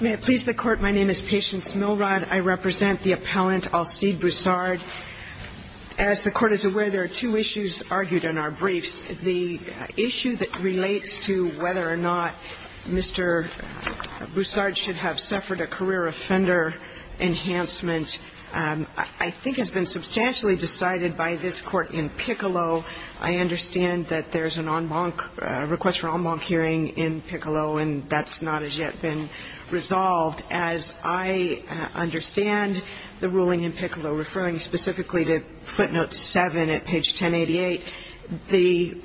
May it please the Court, my name is Patience Milrod, I represent the appellant Alcide Broussard. As the Court is aware, there are two issues argued in our briefs. The issue that relates to whether or not Mr. Broussard should have suffered a career offender enhancement, I think, has been substantially decided by this Court in Piccolo. I understand that there's a request for en banc hearing in Piccolo, and that's not as yet been resolved. As I understand the ruling in Piccolo, referring specifically to footnote 7 at page 1088, the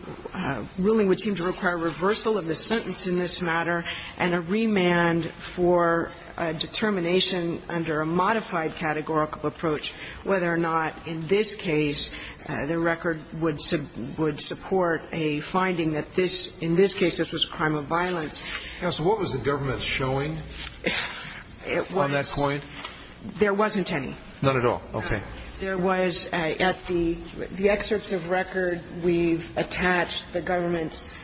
ruling would seem to require reversal of the sentence in this matter and a remand for determination under a modified categorical approach, whether or not in this case the record would support a finding that this, in this case, this was a crime of violence. And so what was the government showing on that point? There wasn't any. None at all. Okay. There was, at the excerpts of record, we've attached the government's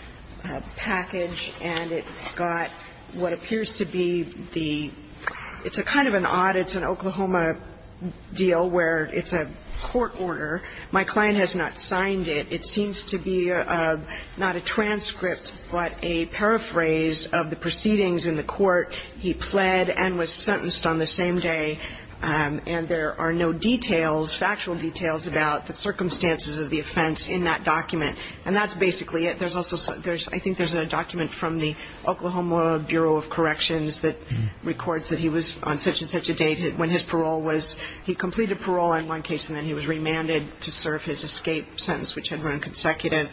package, and it's got what appears to be the, it's a kind of an odd, it's an Oklahoma deal where it's a court order. My client has not signed it. It seems to be not a transcript, but a paraphrase of the proceedings in the court. He pled and was sentenced on the same day, and there are no details, factual details about the circumstances of the offense in that document. And that's basically it. I think there's a document from the Oklahoma Bureau of Corrections that records that he was on such and such a date when his parole was, he completed parole in one case, and then he was remanded to serve his escape sentence, which had run consecutive.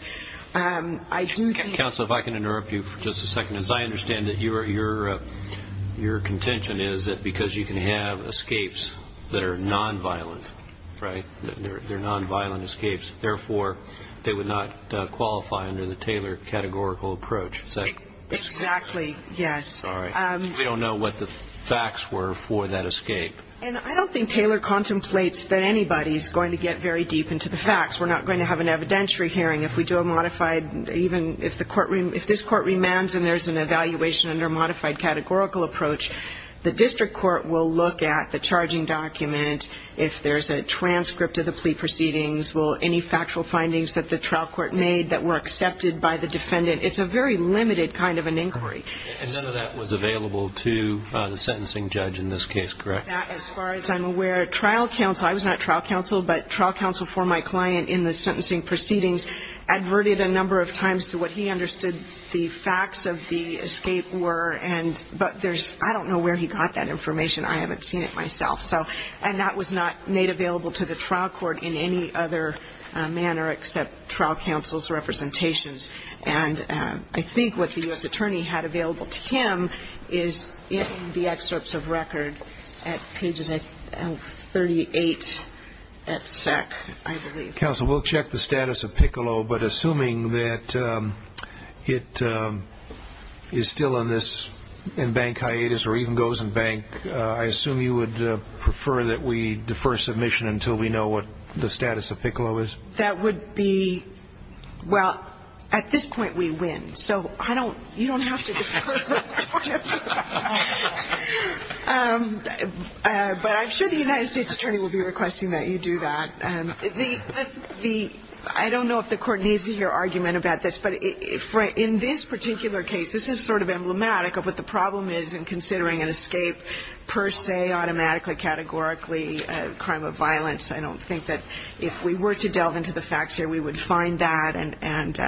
Counsel, if I can interrupt you for just a second. As I understand it, your contention is that because you can have escapes that are nonviolent, right, they're nonviolent escapes, therefore they would not qualify under the Taylor categorical approach. Is that correct? Exactly, yes. All right. We don't know what the facts were for that escape. And I don't think Taylor contemplates that anybody is going to get very deep into the facts. We're not going to have an evidentiary hearing. If we do a modified, even if this court remands and there's an evaluation under a modified categorical approach, the district court will look at the charging document. If there's a transcript of the plea proceedings, will any factual findings that the trial court made that were accepted by the defendant, it's a very limited kind of an inquiry. And none of that was available to the sentencing judge in this case, correct? That, as far as I'm aware, trial counsel, I was not trial counsel, but trial counsel for my client in the sentencing proceedings adverted a number of times to what he understood the facts of the escape were. But I don't know where he got that information. I haven't seen it myself. And that was not made available to the trial court in any other manner except trial counsel's representations. And I think what the U.S. attorney had available to him is in the excerpts of record at pages 38 at SEC, I believe. Counsel, we'll check the status of Piccolo, but assuming that it is still in this, in bank hiatus or even goes in bank, I assume you would prefer that we defer submission until we know what the status of Piccolo is? That would be, well, at this point we win. So I don't, you don't have to defer. But I'm sure the United States attorney will be requesting that you do that. I don't know if the Court needs to hear argument about this, but in this particular case, this is sort of emblematic of what the problem is in considering an escape per se, automatically, categorically, a crime of violence. I don't think that if we were to delve into the facts here, we would find that. And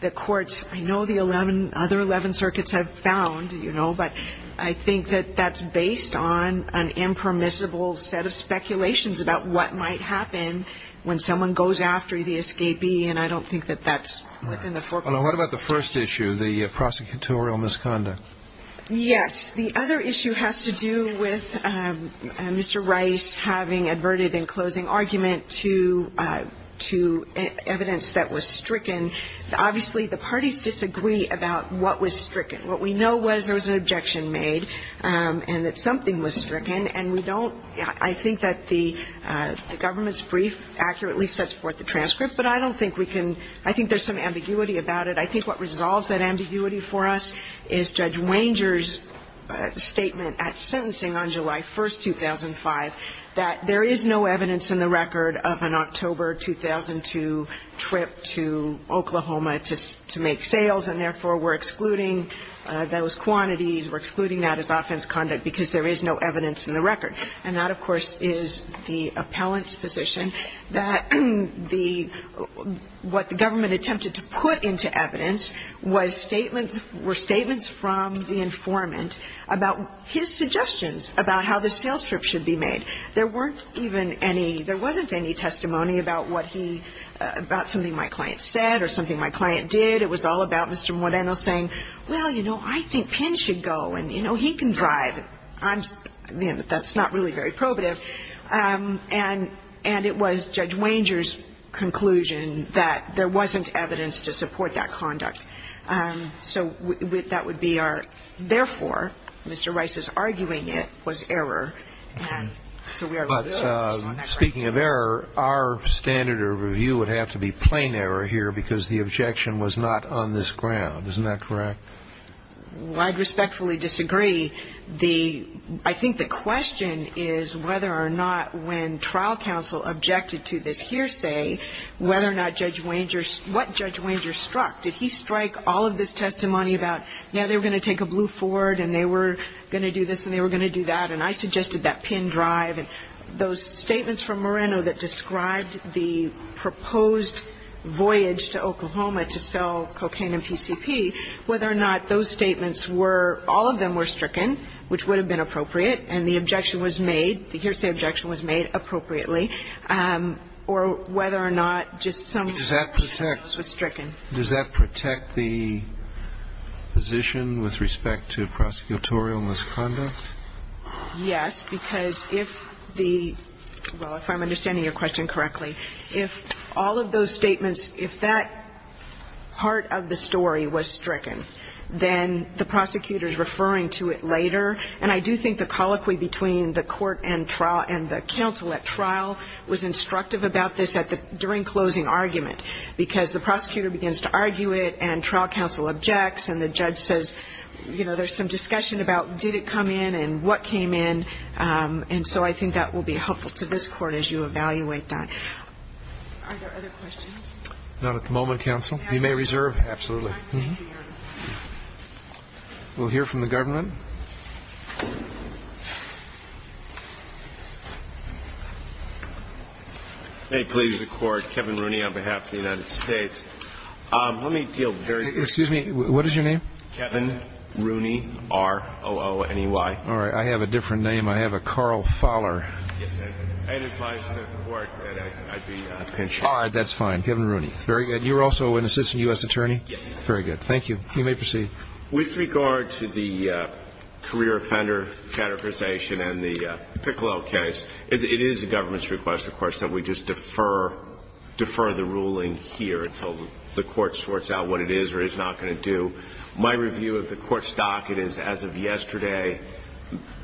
the courts, I know the other 11 circuits have found, you know, but I think that that's based on an impermissible set of speculations about what might happen when someone goes after the escapee, and I don't think that that's within the forecourt. What about the first issue, the prosecutorial misconduct? Yes. The other issue has to do with Mr. Rice having adverted in closing argument to evidence that was stricken. Obviously, the parties disagree about what was stricken. What we know was there was an objection made and that something was stricken, and we don't – I think that the government's brief accurately sets forth the transcript, but I don't think we can – I think there's some ambiguity about it. I think what resolves that ambiguity for us is Judge Wanger's statement at sentencing on July 1st, 2005, that there is no evidence in the record of an October 2002 trip to Oklahoma to make sales, and therefore, we're excluding those quantities, we're excluding that as offense conduct because there is no evidence in the record. And that, of course, is the appellant's position that the – what the government attempted to put into evidence was statements – were statements from the informant about his suggestions about how the sales trip should be made. There weren't even any – there wasn't any testimony about what he – about something my client said or something my client did. It was all about Mr. Moreno saying, well, you know, I think Penn should go, and, you know, he can drive. I'm – that's not really very probative. And it was Judge Wanger's conclusion that there wasn't evidence to support that conduct. So that would be our – therefore, Mr. Rice's arguing it was error. And so we are – But speaking of error, our standard of review would have to be plain error here because the objection was not on this ground. Isn't that correct? Well, I'd respectfully disagree. The – I think the question is whether or not when trial counsel objected to this testimony about, yeah, they were going to take a blue Ford and they were going to do this and they were going to do that, and I suggested that Penn drive, and those statements from Moreno that described the proposed voyage to Oklahoma to sell cocaine and PCP, whether or not those statements were – all of them were stricken, which would have been appropriate, and the objection was made – the hearsay objection was made appropriately, or whether or not just some of those were stricken. Does that protect the position with respect to prosecutorial misconduct? Yes, because if the – well, if I'm understanding your question correctly, if all of those statements – if that part of the story was stricken, then the prosecutor's referring to it later. And I do think the colloquy between the court and trial and the counsel at trial was instructive about this at the – during closing argument, because the prosecutor begins to argue it and trial counsel objects and the judge says, you know, there's some discussion about did it come in and what came in. And so I think that will be helpful to this Court as you evaluate that. Are there other questions? You may reserve. Absolutely. We'll hear from the government. May it please the Court, Kevin Rooney on behalf of the United States. Let me deal very – Excuse me. What is your name? Kevin Rooney, R-O-O-N-E-Y. All right. I have a different name. I have a Carl Fowler. Yes, I do. I'd advise the Court that I'd be pensioner. All right. That's fine. Kevin Rooney. Very good. You're also an assistant U.S. attorney? Yes. Very good. Thank you. You may proceed. With regard to the career offender categorization and the Piccolo case, it is the government's request, of course, that we just defer the ruling here until the Court sorts out what it is or is not going to do. My review of the Court's docket is, as of yesterday,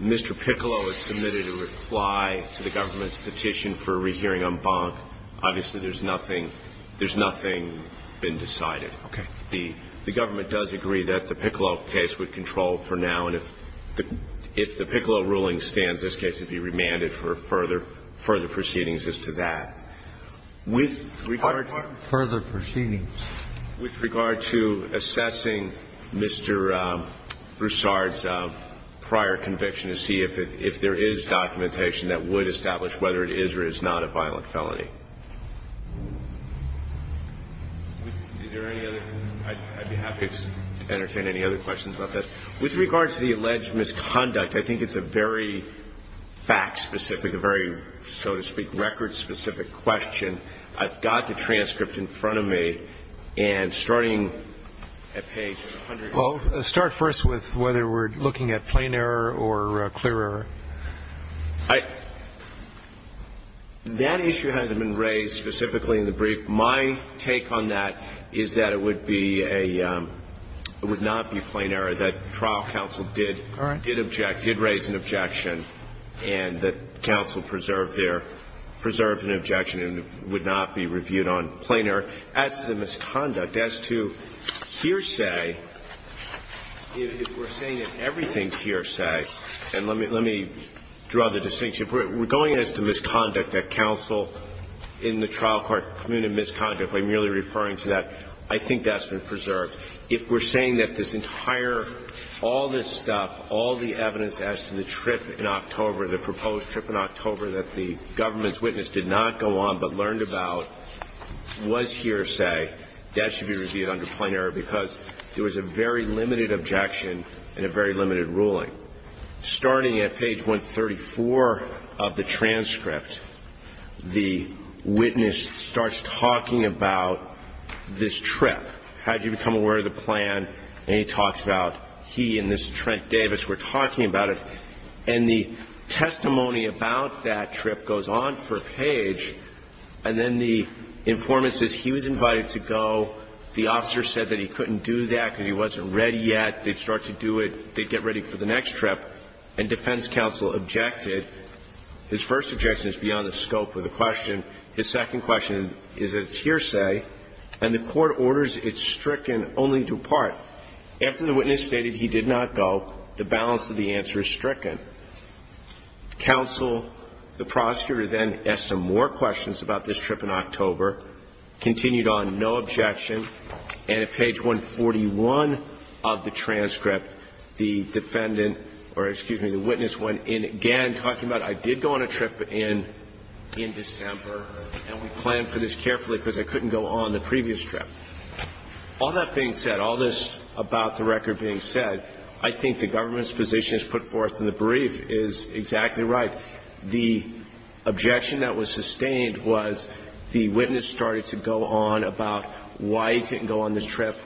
Mr. Piccolo has submitted a reply to the government's petition for a rehearing en banc. Obviously, there's nothing – there's nothing been decided. Okay. The government does agree that the Piccolo case would control for now, and if the Piccolo ruling stands, this case would be remanded for further proceedings as to that. With regard to – Pardon? Further proceedings. With regard to assessing Mr. Broussard's prior conviction to see if there is documentation that would establish whether it is or is not a violent felony. Is there any other – I'd be happy to entertain any other questions about that. With regard to the alleged misconduct, I think it's a very fact-specific, a very, so to speak, record-specific question. I've got the transcript in front of me, and starting at page 100. Well, start first with whether we're looking at plain error or clear error. I – that issue hasn't been raised specifically in the brief. My take on that is that it would be a – it would not be plain error that trial counsel did object, did raise an objection, and that counsel preserved their – preserved an objection and would not be reviewed on plain error. As to the misconduct, as to hearsay, if we're saying that everything's hearsay and let me – let me draw the distinction. If we're going as to misconduct, that counsel in the trial court commuted misconduct by merely referring to that, I think that's been preserved. If we're saying that this entire – all this stuff, all the evidence as to the trip in October, the proposed trip in October that the government's witness did not go on but learned about was hearsay, that should be reviewed under plain error because there was a very limited objection and a very limited ruling. Starting at page 134 of the transcript, the witness starts talking about this trip. How did you become aware of the plan? And he talks about he and this Trent Davis were talking about it. And the testimony about that trip goes on for a page, and then the informant says he was invited to go. The officer said that he couldn't do that because he wasn't ready yet. They'd start to do it – they'd get ready for the next trip. And defense counsel objected. His first objection is beyond the scope of the question. His second question is that it's hearsay. And the court orders it stricken only to a part. After the witness stated he did not go, the balance of the answer is stricken. Counsel, the prosecutor, then asked some more questions about this trip in October, continued on, no objection. And at page 141 of the transcript, the defendant or, excuse me, the witness went in again talking about I did go on a trip in December, and we planned for this carefully because I couldn't go on the previous trip. All that being said, all this about the record being said, I think the government's position is put forth in the brief is exactly right. The objection that was sustained was the witness started to go on about why he couldn't go on this trip,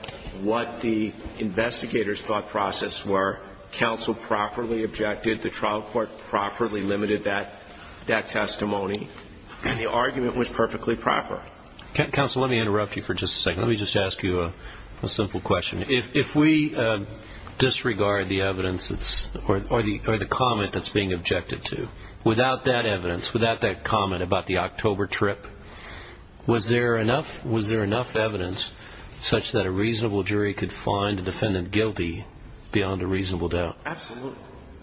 what the investigators' thought process were. Counsel properly objected. The trial court properly limited that testimony. And the argument was perfectly proper. Counsel, let me interrupt you for just a second. Let me just ask you a simple question. If we disregard the evidence or the comment that's being objected to, without that evidence, without that comment about the October trip, was there enough evidence such that a reasonable jury could find the defendant guilty beyond a reasonable doubt?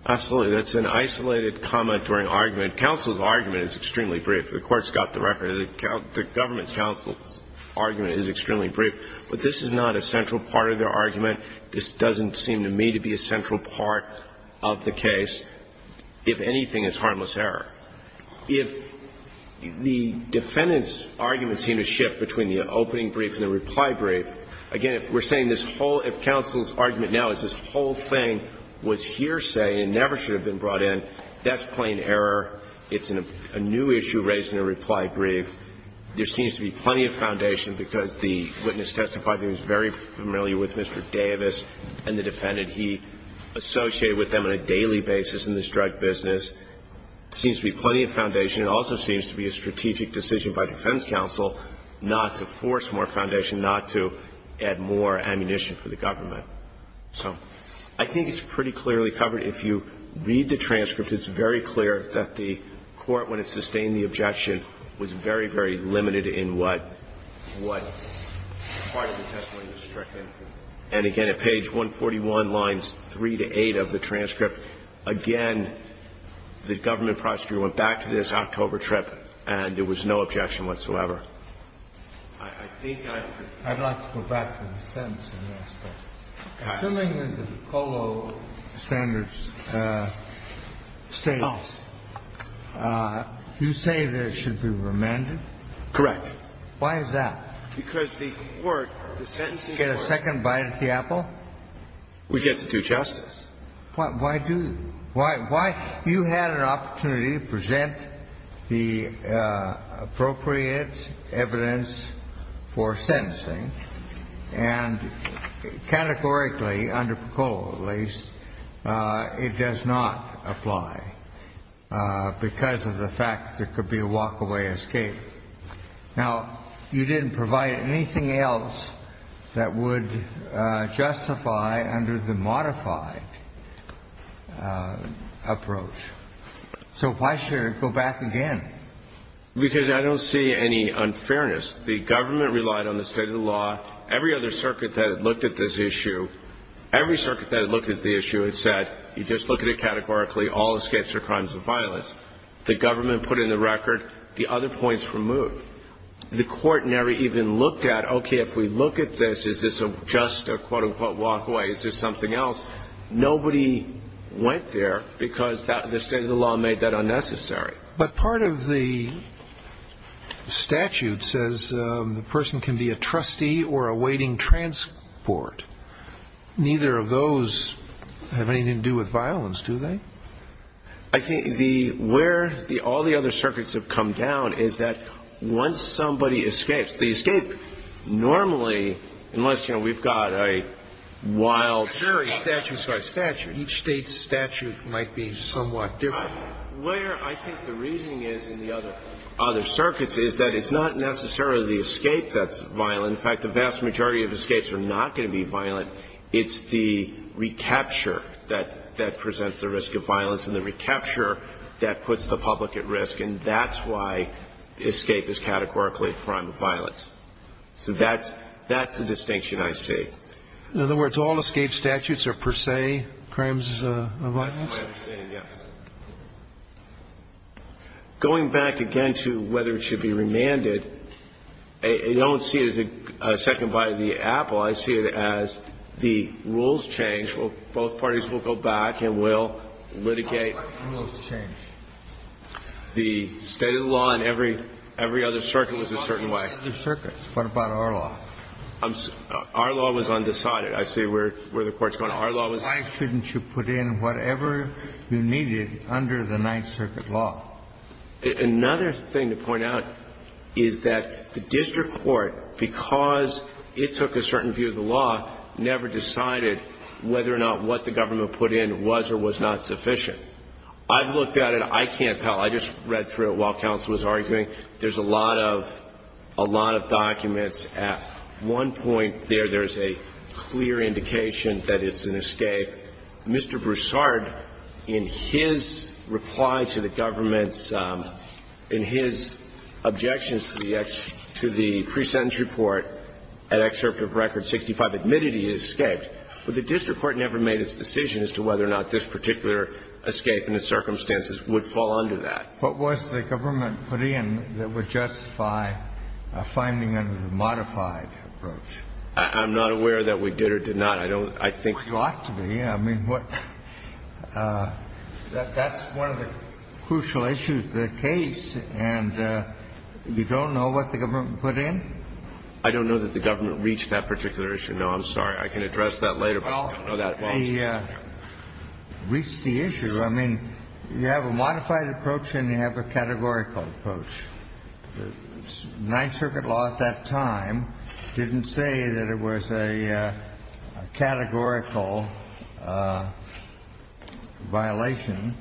Absolutely. That's an isolated comment or an argument. Counsel's argument is extremely brief. The court's got the record. The government's counsel's argument is extremely brief. But this is not a central part of their argument. This doesn't seem to me to be a central part of the case. If anything, it's harmless error. If the defendant's argument seemed to shift between the opening brief and the reply brief, again, if we're saying this whole – if counsel's argument now is this whole thing was hearsay and never should have been brought in, that's plain error. It's a new issue raised in the reply brief. There seems to be plenty of foundation because the witness testifying is very familiar with Mr. Davis and the defendant. He associated with them on a daily basis in this drug business. There seems to be plenty of foundation. It also seems to be a strategic decision by defense counsel not to force more foundation, not to add more ammunition for the government. So I think it's pretty clearly covered. If you read the transcript, it's very clear that the court, when it sustained the objection, was very, very limited in what – what part of the testimony was stricken. And again, at page 141, lines 3 to 8 of the transcript, again, the government prosecutor went back to this October trip and there was no objection whatsoever. I think I could – I'd like to go back to the sentence in the last question. Okay. Mr. Davis, I'm assuming that the Colo standards states, you say that it should be remanded? Correct. Why is that? Because the court, the sentencing court – Did you get a second bite at the apple? We get to do justice. Why do – why – you had an opportunity to present the appropriate evidence for sentencing, and categorically, under Colo at least, it does not apply because of the fact that there could be a walk-away escape. Now, you didn't provide anything else that would justify under the modified approach. So why should it go back again? Because I don't see any unfairness. The government relied on the state of the law. Every other circuit that had looked at this issue, every circuit that had looked at the issue had said, you just look at it categorically, all escapes are crimes of violence. The government put in the record the other points removed. The court never even looked at, okay, if we look at this, is this just a, quote, unquote, walk-away? Is this something else? Nobody went there because the state of the law made that unnecessary. But part of the statute says the person can be a trustee or awaiting transport. Neither of those have anything to do with violence, do they? I think the – where all the other circuits have come down is that once somebody escapes, the escape normally, unless, you know, we've got a wild – Sure, a statute is a statute. Each state's statute might be somewhat different. Where I think the reasoning is in the other circuits is that it's not necessarily the escape that's violent. In fact, the vast majority of escapes are not going to be violent. It's the recapture that presents the risk of violence and the recapture that puts the public at risk. And that's why escape is categorically a crime of violence. So that's the distinction I see. In other words, all escape statutes are per se crimes of violence? That's my understanding, yes. Going back again to whether it should be remanded, I don't see it as a second bite of the apple. I see it as the rules change. Both parties will go back and will litigate. What rules change? The state of the law in every other circuit was a certain way. What about other circuits? What about our law? Our law was undecided. I see where the Court's going. Why shouldn't you put in whatever you needed under the Ninth Circuit law? Another thing to point out is that the district court, because it took a certain view of the law, never decided whether or not what the government put in was or was not sufficient. I've looked at it. I can't tell. I just read through it while counsel was arguing. There's a lot of documents. At one point there, there's a clear indication that it's an escape. Mr. Broussard, in his reply to the government's, in his objections to the pre-sentence report at excerpt of Record 65, admitted he escaped. But the district court never made its decision as to whether or not this particular escape and the circumstances would fall under that. What was the government put in that would justify a finding under the modified approach? I'm not aware that we did or did not. I don't, I think. Well, you ought to be. I mean, that's one of the crucial issues of the case. And you don't know what the government put in? I don't know that the government reached that particular issue. No, I'm sorry. I can address that later, but I don't know that at all. Well, they reached the issue. I mean, you have a modified approach and you have a categorical approach. Ninth Circuit law at that time didn't say that it was a categorical violation.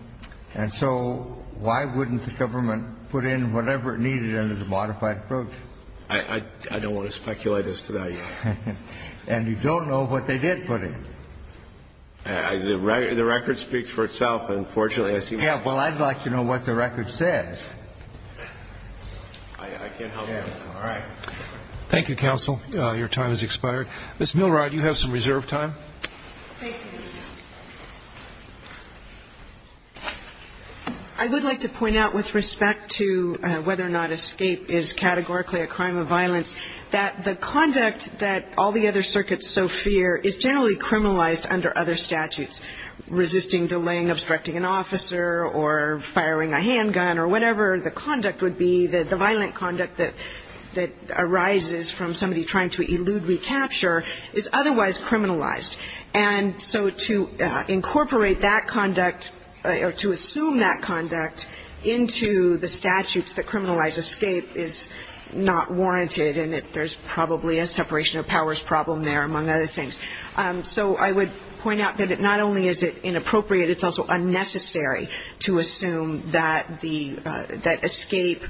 And so why wouldn't the government put in whatever it needed under the modified approach? I don't want to speculate as to that. And you don't know what they did put in? The record speaks for itself, unfortunately. Yeah, well, I'd like to know what the record says. I can't help you with that. All right. Thank you, counsel. Your time has expired. Ms. Milrod, you have some reserved time. Thank you. I would like to point out with respect to whether or not escape is categorically a crime of violence, that the conduct that all the other circuits so fear is generally criminalized under other statutes, resisting, delaying, obstructing an officer, or firing a handgun, or whatever the conduct would be, the violent conduct that arises from somebody trying to elude recapture is otherwise criminalized. And so to incorporate that conduct or to assume that conduct into the statutes that criminalize escape is not warranted, and there's probably a separation of powers problem there, among other things. So I would point out that not only is it inappropriate, it's also unnecessary to assume that the escape,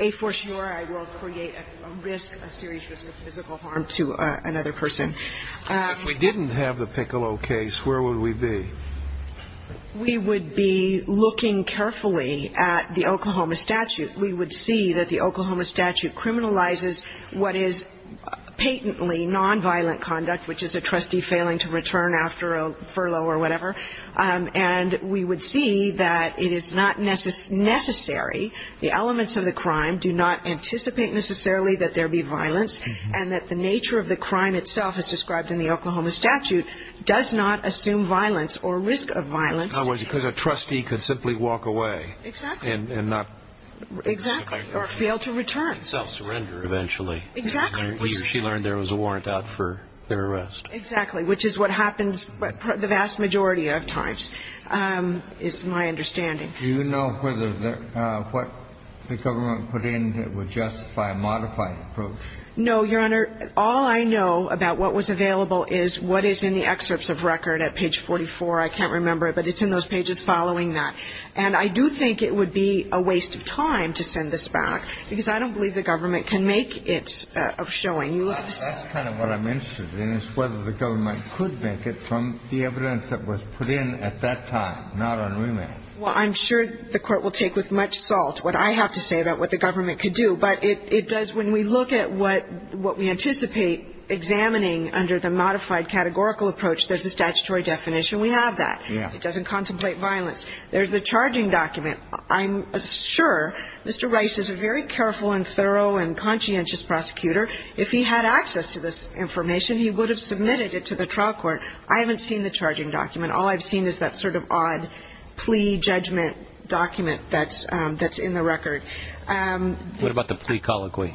a for sure, I will create a risk, a serious risk of physical harm to another person. If we didn't have the Piccolo case, where would we be? We would be looking carefully at the Oklahoma statute. We would see that the Oklahoma statute criminalizes what is patently nonviolent conduct, which is a trustee failing to return after a furlough or whatever. And we would see that it is not necessary, the elements of the crime do not anticipate necessarily that there be violence, and that the nature of the crime itself as described in the Oklahoma statute does not assume violence or risk of violence. Because a trustee could simply walk away. Exactly. And not. Exactly. Or fail to return. Self-surrender eventually. Exactly. She learned there was a warrant out for their arrest. Exactly, which is what happens the vast majority of times, is my understanding. Do you know whether what the government put in would justify a modified approach? No, Your Honor. All I know about what was available is what is in the excerpts of record at page 44. I can't remember it, but it's in those pages following that. And I do think it would be a waste of time to send this back, because I don't believe the government can make it of showing. That's kind of what I'm interested in, is whether the government could make it from the evidence that was put in at that time, not on remand. Well, I'm sure the Court will take with much salt what I have to say about what the government could do. But it does, when we look at what we anticipate examining under the modified categorical approach, there's a statutory definition. We have that. Yeah. It doesn't contemplate violence. There's the charging document. I'm sure Mr. Rice is a very careful and thorough and conscientious prosecutor. If he had access to this information, he would have submitted it to the trial court. I haven't seen the charging document. All I've seen is that sort of odd plea judgment document that's in the record. What about the plea colloquy?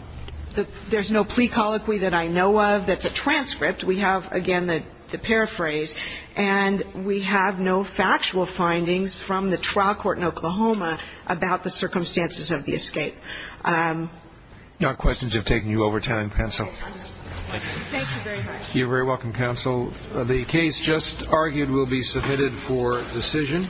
There's no plea colloquy that I know of that's a transcript. We have, again, the paraphrase. And we have no factual findings from the trial court in Oklahoma about the circumstances of the escape. Your questions have taken you over time, counsel. Thank you. Thank you very much. You're very welcome, counsel. The case just argued will be submitted for decision.